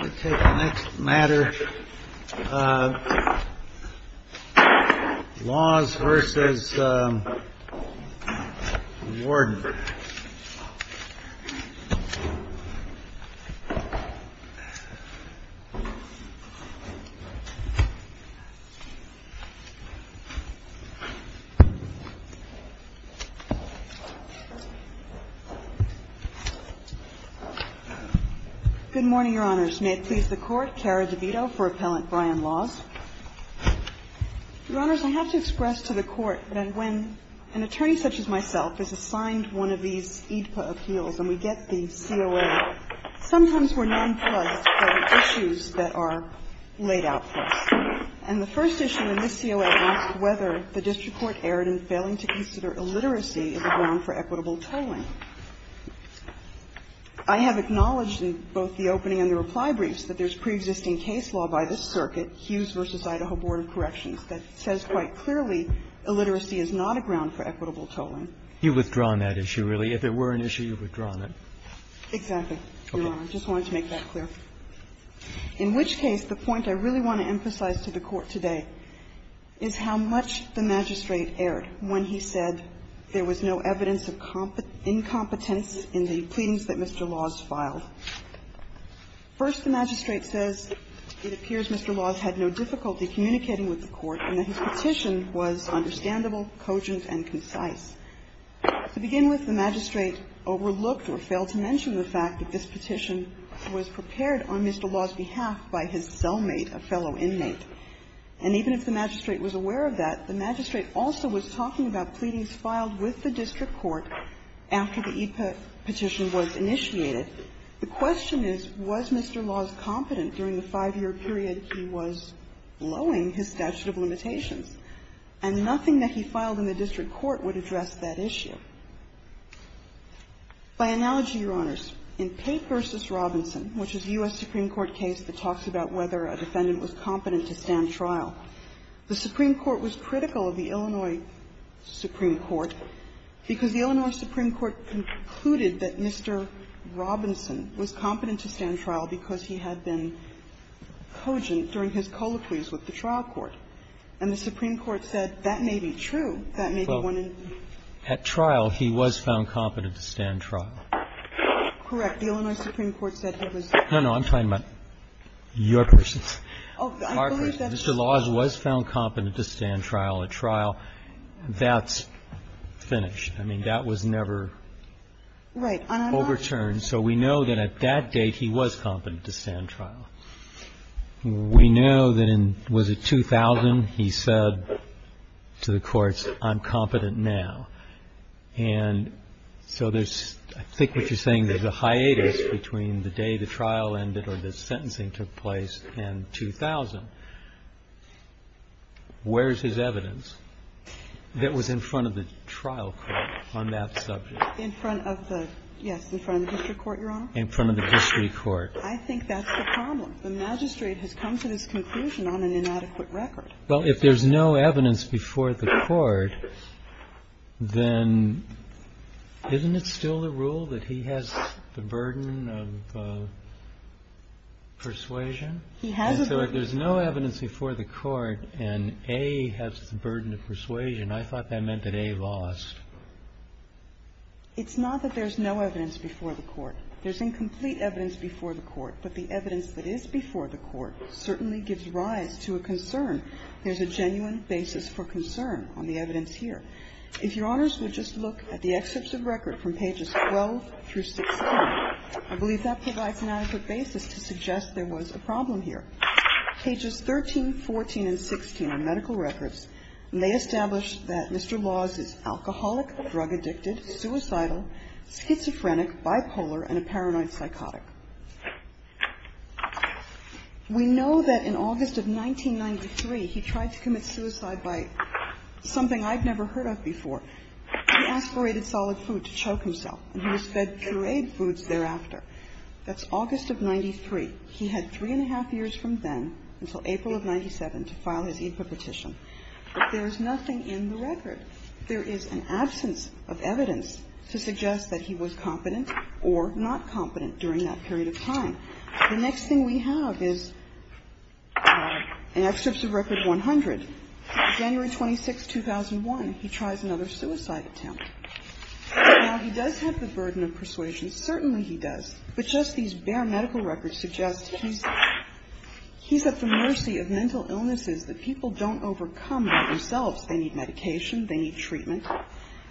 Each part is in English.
Let's take the next matter, Laws v. Warden. Good morning, Your Honors. May it please the Court, Kara DeVito for Appellant Brian Laws. Your Honors, I have to express to the Court that when an attorney such as myself is assigned one of these AEDPA appeals and we get the COA, sometimes we're nonplussed by issues that are laid out for us. And the first issue in this COA is whether the district court erred in failing to consider illiteracy as a ground for equitable tolling. I have acknowledged in both the opening and the reply briefs that there's no evidence of incompetence in the pleadings that Mr. Laws filed. First, the magistrate says, it appears Mr. Laws had no difficulty in considering illiteracy as a ground for equitable tolling. It appears Mr. Laws had no difficulty communicating with the court and that his petition was understandable, cogent, and concise. To begin with, the magistrate overlooked or failed to mention the fact that this petition was prepared on Mr. Laws' behalf by his cellmate, a fellow inmate. And even if the magistrate was aware of that, the magistrate also was talking about pleadings filed with the district court after the EIPA petition was initiated. The question is, was Mr. Laws competent during the five-year period he was blowing his statute of limitations? And nothing that he filed in the district court would address that issue. By analogy, Your Honors, in Pape v. Robinson, which is a U.S. Supreme Court case that talks about whether a defendant was competent to stand trial, the Supreme Court was critical of the Illinois Supreme Court because the Illinois Supreme Court concluded that Mr. Robinson was competent to stand trial because he had been cogent during his colloquies with the trial court. And the Supreme Court said, that may be true, that may be one in two. Well, at trial, he was found competent to stand trial. Correct. The Illinois Supreme Court said he was. No, no. I'm talking about your person's. Oh, I believe that's true. Mr. Laws was found competent to stand trial at trial. That's finished. I mean, that was never overturned. So we know that at that date, he was competent to stand trial. We know that in, was it 2000, he said to the courts, I'm competent now. And so there's, I think what you're saying, there's a hiatus between the day the trial ended or the sentencing took place and 2000. Where's his evidence that was in front of the trial court on that subject? In front of the, yes, in front of the district court, Your Honor. In front of the district court. I think that's the problem. The magistrate has come to this conclusion on an inadequate record. Well, if there's no evidence before the court, then isn't it still the rule that he has the burden of persuasion? He has a burden. And so if there's no evidence before the court and A has the burden of persuasion, I thought that meant that A lost. It's not that there's no evidence before the court. There's incomplete evidence before the court. But the evidence that is before the court certainly gives rise to a concern. There's a genuine basis for concern on the evidence here. If Your Honors would just look at the excerpts of record from pages 12 through 16, I believe that provides an adequate basis to suggest there was a problem here. Pages 13, 14, and 16 are medical records, and they establish that Mr. Laws is alcoholic, drug-addicted, suicidal, schizophrenic, bipolar, and a paranoid psychotic. We know that in August of 1993, he tried to commit suicide by something I've never heard of before. He aspirated solid food to choke himself, and he was fed pureed foods thereafter. That's August of 93. He had three and a half years from then until April of 97 to file his EIPA petition. But there's nothing in the record. There is an absence of evidence to suggest that he was competent or not competent during that period of time. The next thing we have is an excerpt of record 100. January 26, 2001, he tries another suicide attempt. Now, he does have the burden of persuasion. Certainly he does. But just these bare medical records suggest he's at the mercy of mental illnesses that people don't overcome by themselves. They need medication. They need treatment.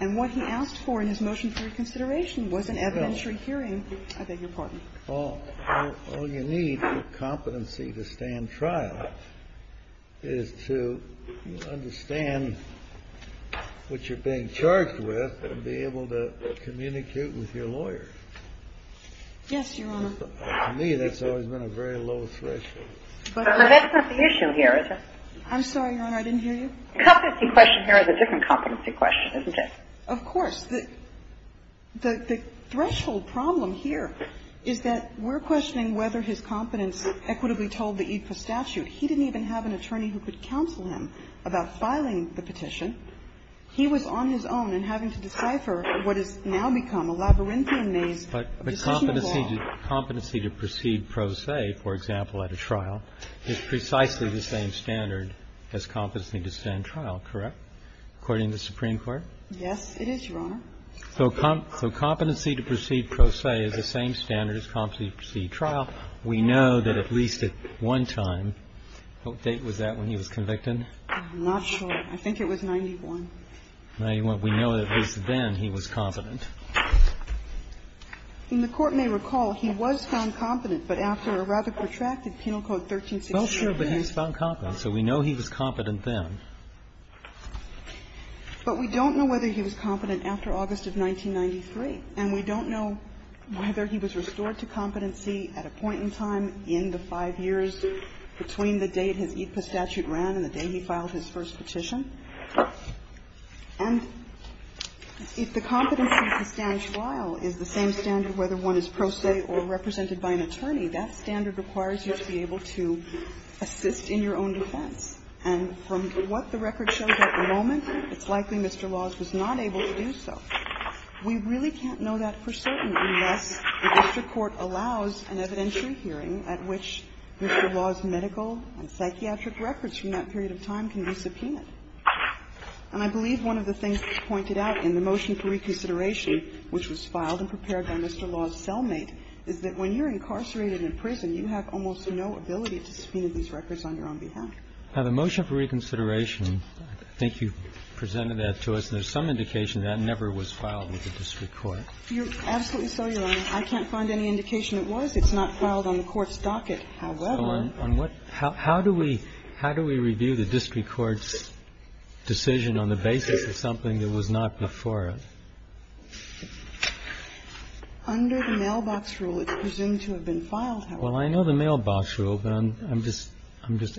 And what he asked for in his motion for reconsideration was an evidentiary hearing. I beg your pardon. Kennedy. All you need for competency to stand trial is to understand what you're being charged with and be able to communicate with your lawyer. Yes, Your Honor. To me, that's always been a very low threshold. But that's not the issue here, is it? I'm sorry, Your Honor. I didn't hear you. The competency question here is a different competency question, isn't it? Of course. The threshold problem here is that we're questioning whether his competence equitably told the EIPA statute. He didn't even have an attorney who could counsel him about filing the petition. He was on his own and having to decipher what has now become a labyrinthian maze. But competency to proceed pro se, for example, at a trial is precisely the same standard as competency to stand trial, correct, according to the Supreme Court? Yes, it is, Your Honor. So competency to proceed pro se is the same standard as competency to proceed trial. We know that at least at one time. What date was that when he was convicted? I'm not sure. I think it was 91. 91. We know that at least then he was competent. And the Court may recall he was found competent, but after a rather protracted penal code 1368. Well, sure, but he was found competent, so we know he was competent then. But we don't know whether he was competent after August of 1993, and we don't know whether he was restored to competency at a point in time in the 5 years between the date his EIPA statute ran and the day he filed his first petition. And if the competency to stand trial is the same standard whether one is pro se or represented by an attorney, that standard requires you to be able to assist in your own defense. And from what the record shows at the moment, it's likely Mr. Laws was not able to do so. We really can't know that for certain unless the district court allows an evidentiary hearing at which Mr. Laws' medical and psychiatric records from that period of time can be subpoenaed. And I believe one of the things that's pointed out in the motion for reconsideration, which was filed and prepared by Mr. Laws' cellmate, is that when you're incarcerated in prison, you have almost no ability to subpoena these records on your own behalf. Now, the motion for reconsideration, I think you presented that to us, and there's some indication that never was filed with the district court. Absolutely so, Your Honor. I can't find any indication it was. It's not filed on the court's docket, however. So on what – how do we review the district court's decision on the basis of something that was not before it? Under the mailbox rule, it's presumed to have been filed, however. Well, I know the mailbox rule, but I'm just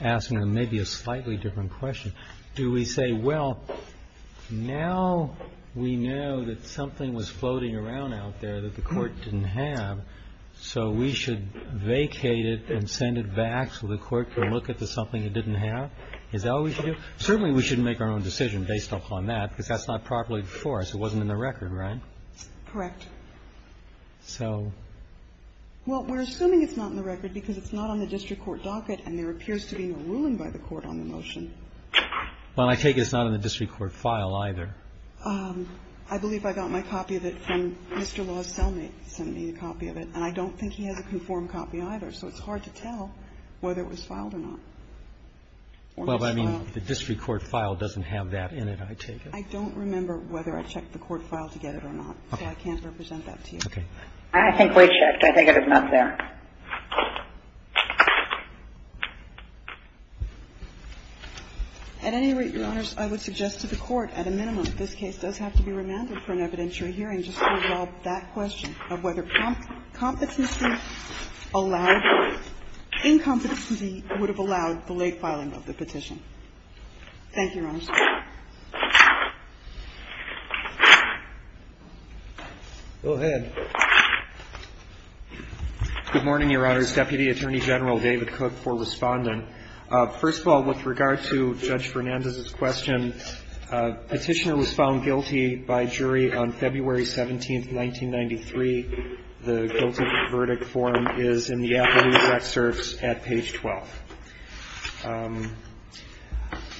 asking maybe a slightly different question. Do we say, well, now we know that something was floating around out there that the district court should vacate it and send it back so the court can look at the something it didn't have? Is that what we should do? Certainly we should make our own decision based upon that, because that's not properly before us. It wasn't in the record, right? Correct. So? Well, we're assuming it's not in the record because it's not on the district court docket, and there appears to be no ruling by the court on the motion. Well, I take it it's not in the district court file either. I believe I got my copy of it from Mr. Law's cellmate, sent me a copy of it, and I don't think he has a conformed copy either, so it's hard to tell whether it was filed or not. Well, I mean, the district court file doesn't have that in it, I take it. I don't remember whether I checked the court file to get it or not, so I can't represent that to you. Okay. I think we checked. I think it is not there. At any rate, Your Honors, I would suggest to the Court, at a minimum, this case does have to be remanded for an evidentiary hearing just to resolve that question of whether competency allowed or incompetency would have allowed the late filing of the petition. Thank you, Your Honors. Go ahead. Good morning, Your Honors. Deputy Attorney General David Cook for Respondent. First of all, with regard to Judge Fernandez's question, Petitioner was found guilty by jury on February 17, 1993. The guilty verdict form is in the appellee's excerpts at page 12.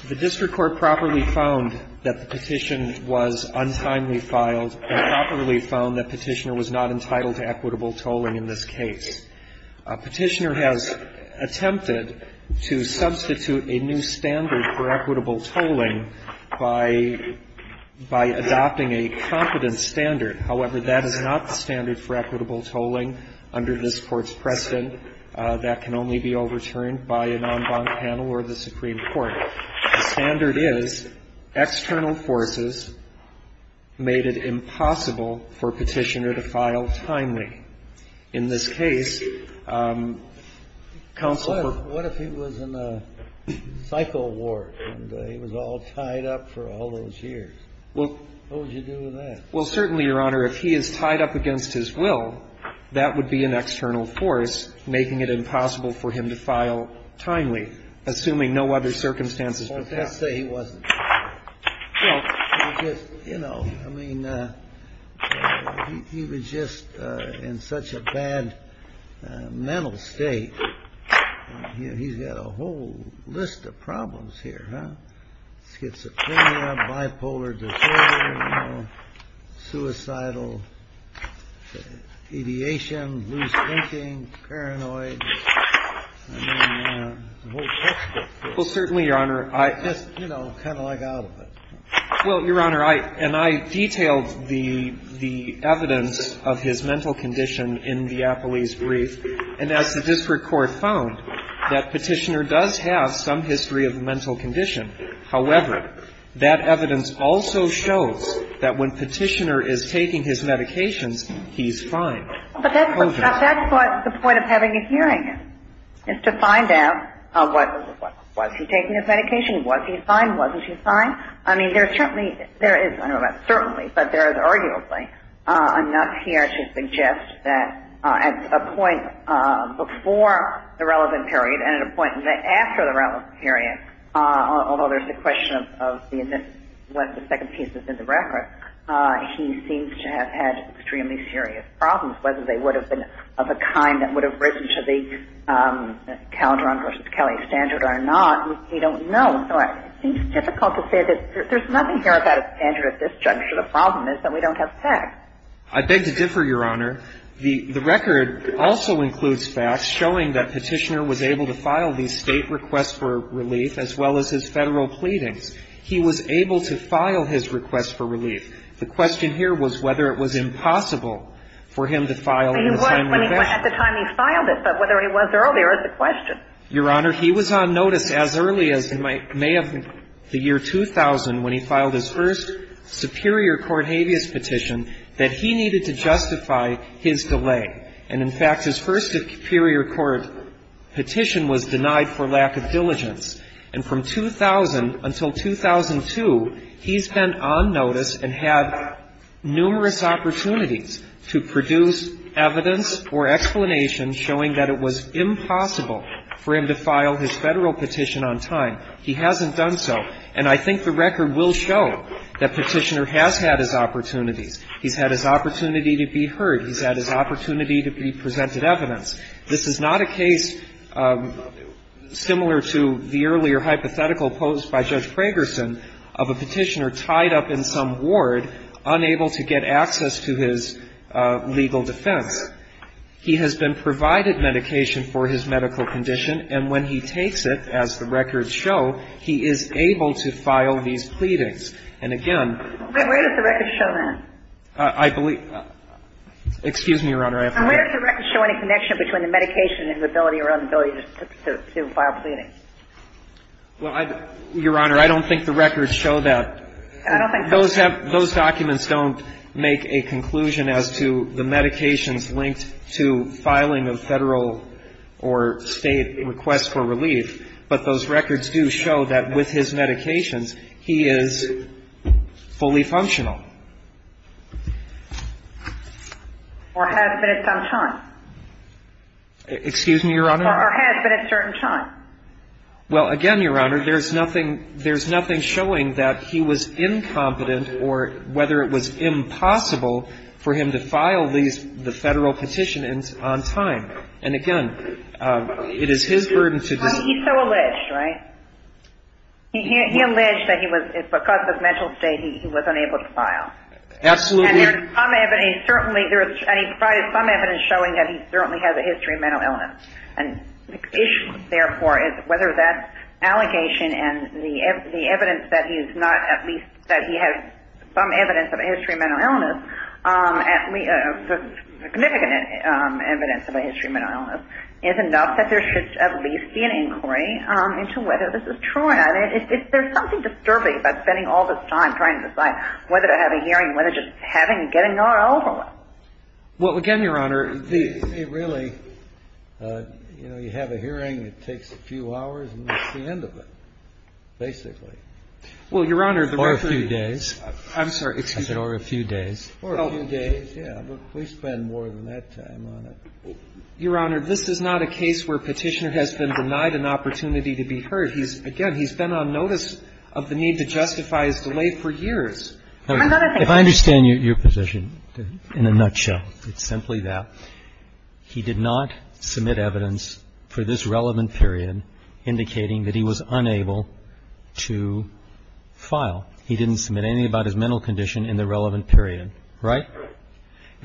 The district court properly found that the petition was untimely filed, and properly found that Petitioner was not entitled to equitable tolling in this case. Petitioner has attempted to substitute a new standard for equitable tolling by adopting a competent standard. However, that is not the standard for equitable tolling under this Court's precedent. That can only be overturned by an en banc panel or the Supreme Court. The standard is external forces made it impossible for Petitioner to file timely. In this case, counsel ---- What if he was in a cycle ward and he was all tied up for all those years? What would you do with that? Well, certainly, Your Honor, if he is tied up against his will, that would be an external force making it impossible for him to file timely. Assuming no other circumstances. Well, let's say he wasn't. You know, I mean, he was just in such a bad mental state, he's got a whole list of problems here. Schizophrenia, bipolar disorder, suicidal, deviation, loose thinking, paranoid. Well, certainly, Your Honor, I just, you know, kind of like out of it. Well, Your Honor, and I detailed the evidence of his mental condition in the Appley's brief, and as the district court found, that Petitioner does have some history of mental condition. However, that evidence also shows that when Petitioner is taking his medications, he's fine. But that's what the point of having a hearing is, is to find out, was he taking his medication? Was he fine? Wasn't he fine? I mean, there's certainly, there is, I don't know about certainly, but there is arguably enough here to suggest that at a point before the relevant period and at a point after the relevant period, although there's the question of what the second piece is in the record, he seems to have had extremely serious problems, whether they would have been of a kind that would have risen to the Calderon v. Kelly standard or not. We don't know. So it seems difficult to say that there's nothing here about a standard at this juncture. The problem is that we don't have facts. I beg to differ, Your Honor. The record also includes facts showing that Petitioner was able to file the State requests for relief as well as his Federal pleadings. He was able to file his requests for relief. The question here was whether it was impossible for him to file in the time we have. Well, he was at the time he filed it, but whether he was earlier is the question. Your Honor, he was on notice as early as May of the year 2000 when he filed his first superior court habeas petition that he needed to justify his delay. And in fact, his first superior court petition was denied for lack of diligence. And from 2000 until 2002, he's been on notice and had numerous opportunities to produce evidence or explanations showing that it was impossible for him to file his Federal petition on time. He hasn't done so. And I think the record will show that Petitioner has had his opportunities. He's had his opportunity to be heard. He's had his opportunity to be presented evidence. This is not a case similar to the earlier hypothetical posed by Judge Pragerson of a Petitioner tied up in some ward, unable to get access to his legal defense. He has been provided medication for his medical condition, and when he takes it, as the records show, he is able to file these pleadings. And again ---- Where does the record show that? I believe ---- excuse me, Your Honor. Where does the record show any connection between the medication and his ability or inability to file pleadings? Well, Your Honor, I don't think the records show that. I don't think the records show that. Those documents don't make a conclusion as to the medications linked to filing a Federal or State request for relief, but those records do show that with his medications, he is fully functional. Or has been at some time. Excuse me, Your Honor. Or has been at certain time. Well, again, Your Honor, there's nothing showing that he was incompetent or whether it was impossible for him to file the Federal petition on time. And again, it is his burden to ---- He's so alleged, right? He alleged that because of mental state, he was unable to file. Absolutely. And he provided some evidence showing that he certainly has a history of mental illness. And the issue, therefore, is whether that allegation and the evidence that he is not at least that he has some evidence of a history of mental illness, the significant evidence of a history of mental illness, is enough that there should at least be an inquiry into whether this is true. And if there's something disturbing about spending all this time trying to decide whether to have a hearing, whether just having and getting an R.O. or what? Well, again, Your Honor, the ---- It really, you know, you have a hearing, it takes a few hours, and that's the end of it, basically. Well, Your Honor, the record ---- Or a few days. I'm sorry. Excuse me. Or a few days. Or a few days, yeah. We spend more than that time on it. Your Honor, this is not a case where Petitioner has been denied an opportunity to be heard. Again, he's been on notice of the need to justify his delay for years. If I understand your position in a nutshell, it's simply that he did not submit evidence for this relevant period indicating that he was unable to file. He didn't submit anything about his mental condition in the relevant period, right?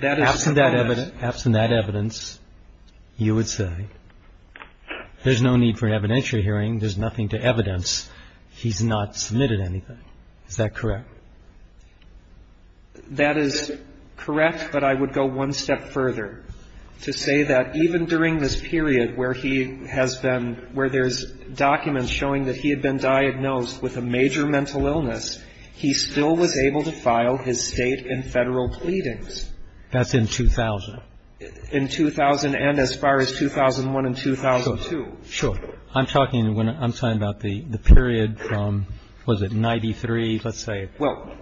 Absent that evidence, you would say there's no need for an evidentiary hearing. There's nothing to evidence. He's not submitted anything. Is that correct? That is correct, but I would go one step further to say that even during this period where he has been ---- where there's documents showing that he had been diagnosed with a major mental illness, he still was able to file his State and Federal pleadings. That's in 2000. In 2000 and as far as 2001 and 2002. Sure. I'm talking about the period from, what is it, 93, let's say? Well,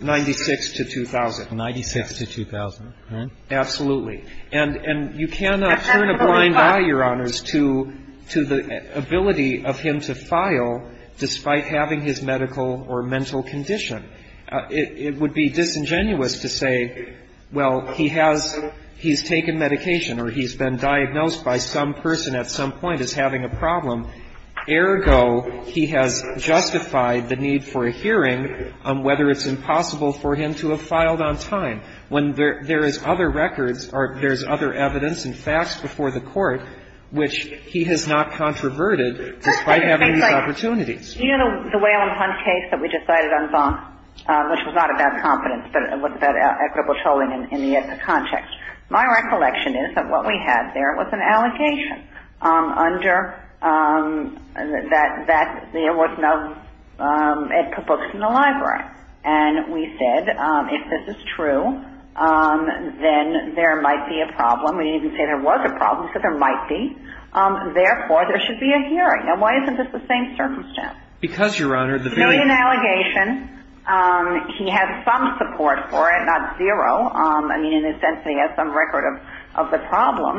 96 to 2000. 96 to 2000, right? Absolutely. And you cannot turn a blind eye, Your Honors, to the ability of him to file despite having his medical or mental condition. It would be disingenuous to say, well, he has he's taken medication or he's been diagnosed by some person at some point is having a problem. Ergo, he has justified the need for a hearing on whether it's impossible for him to have filed on time. When there is other records or there's other evidence and facts before the Court, which he has not controverted despite having these opportunities. Do you know the Whalum Hunt case that we just cited on Zonk, which was not about competence, but was about equitable tolling in the context? My recollection is that what we had there was an allegation under that there was no editor books in the library. And we said, if this is true, then there might be a problem. We didn't even say there was a problem. We said there might be. Therefore, there should be a hearing. Now, why isn't this the same circumstance? Because, Your Honor, the very- It's really an allegation. He had some support for it, not zero. I mean, in a sense, he has some record of the problem.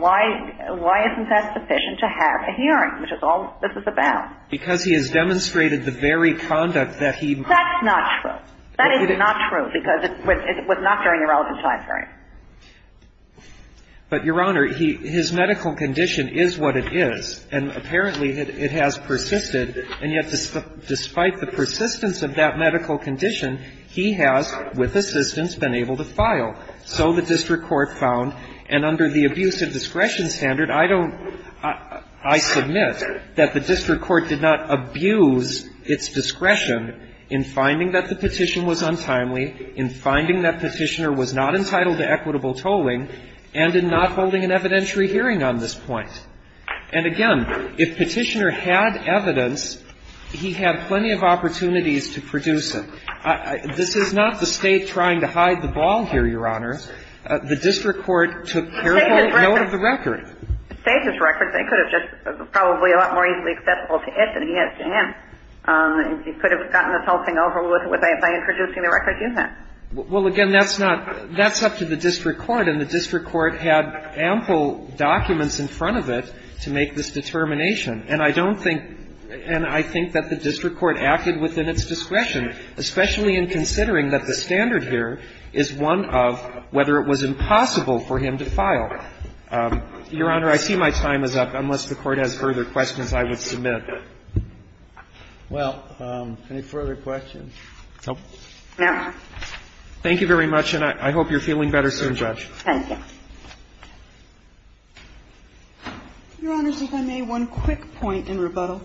Why isn't that sufficient to have a hearing, which is all this is about? Because he has demonstrated the very conduct that he- That's not true. That is not true, because it was not during the relevant time period. But, Your Honor, his medical condition is what it is, and apparently it has persisted. And yet, despite the persistence of that medical condition, he has, with assistance, been able to file. So the district court found, and under the abuse of discretion standard, I don't I submit that the district court did not abuse its discretion in finding that the petition was untimely, in finding that Petitioner was not entitled to equitable tolling, and in not holding an evidentiary hearing on this point. And, again, if Petitioner had evidence, he had plenty of opportunities to produce it. This is not the State trying to hide the ball here, Your Honor. The district court took careful note of the record. To save his record, they could have just probably a lot more easily accessible to it than he has to him. He could have gotten this whole thing over with by introducing the record to him. Well, again, that's not – that's up to the district court. And the district court had ample documents in front of it to make this determination. And I don't think – and I think that the district court acted within its discretion, especially in considering that the standard here is one of whether it was impossible for him to file. Your Honor, I see my time is up, unless the Court has further questions I would submit. Well, any further questions? No. Thank you. Your Honors, if I may, one quick point in rebuttal.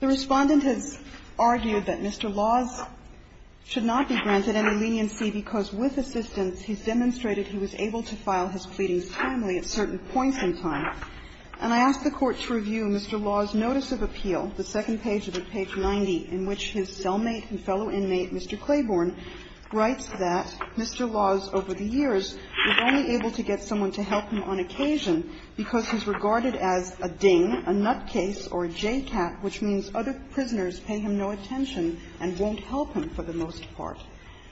The Respondent has argued that Mr. Laws should not be granted any leniency because with assistance he's demonstrated he was able to file his pleadings timely at certain points in time. And I ask the Court to review Mr. Laws' notice of appeal, the second page of it, page 90, in which his cellmate and fellow inmate, Mr. Claiborne, writes that Mr. Laws over the years was only able to get someone to help him on occasion because he's regarded as a ding, a nutcase or a jaycat, which means other prisoners pay him no attention and won't help him for the most part.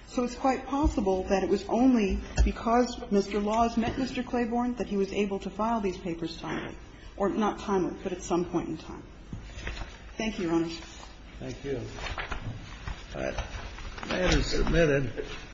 So it's quite possible that it was only because Mr. Laws met Mr. Claiborne that he was able to file these papers timely, or not timely, but at some point in time. Thank you, Your Honors. Thank you. That is submitted.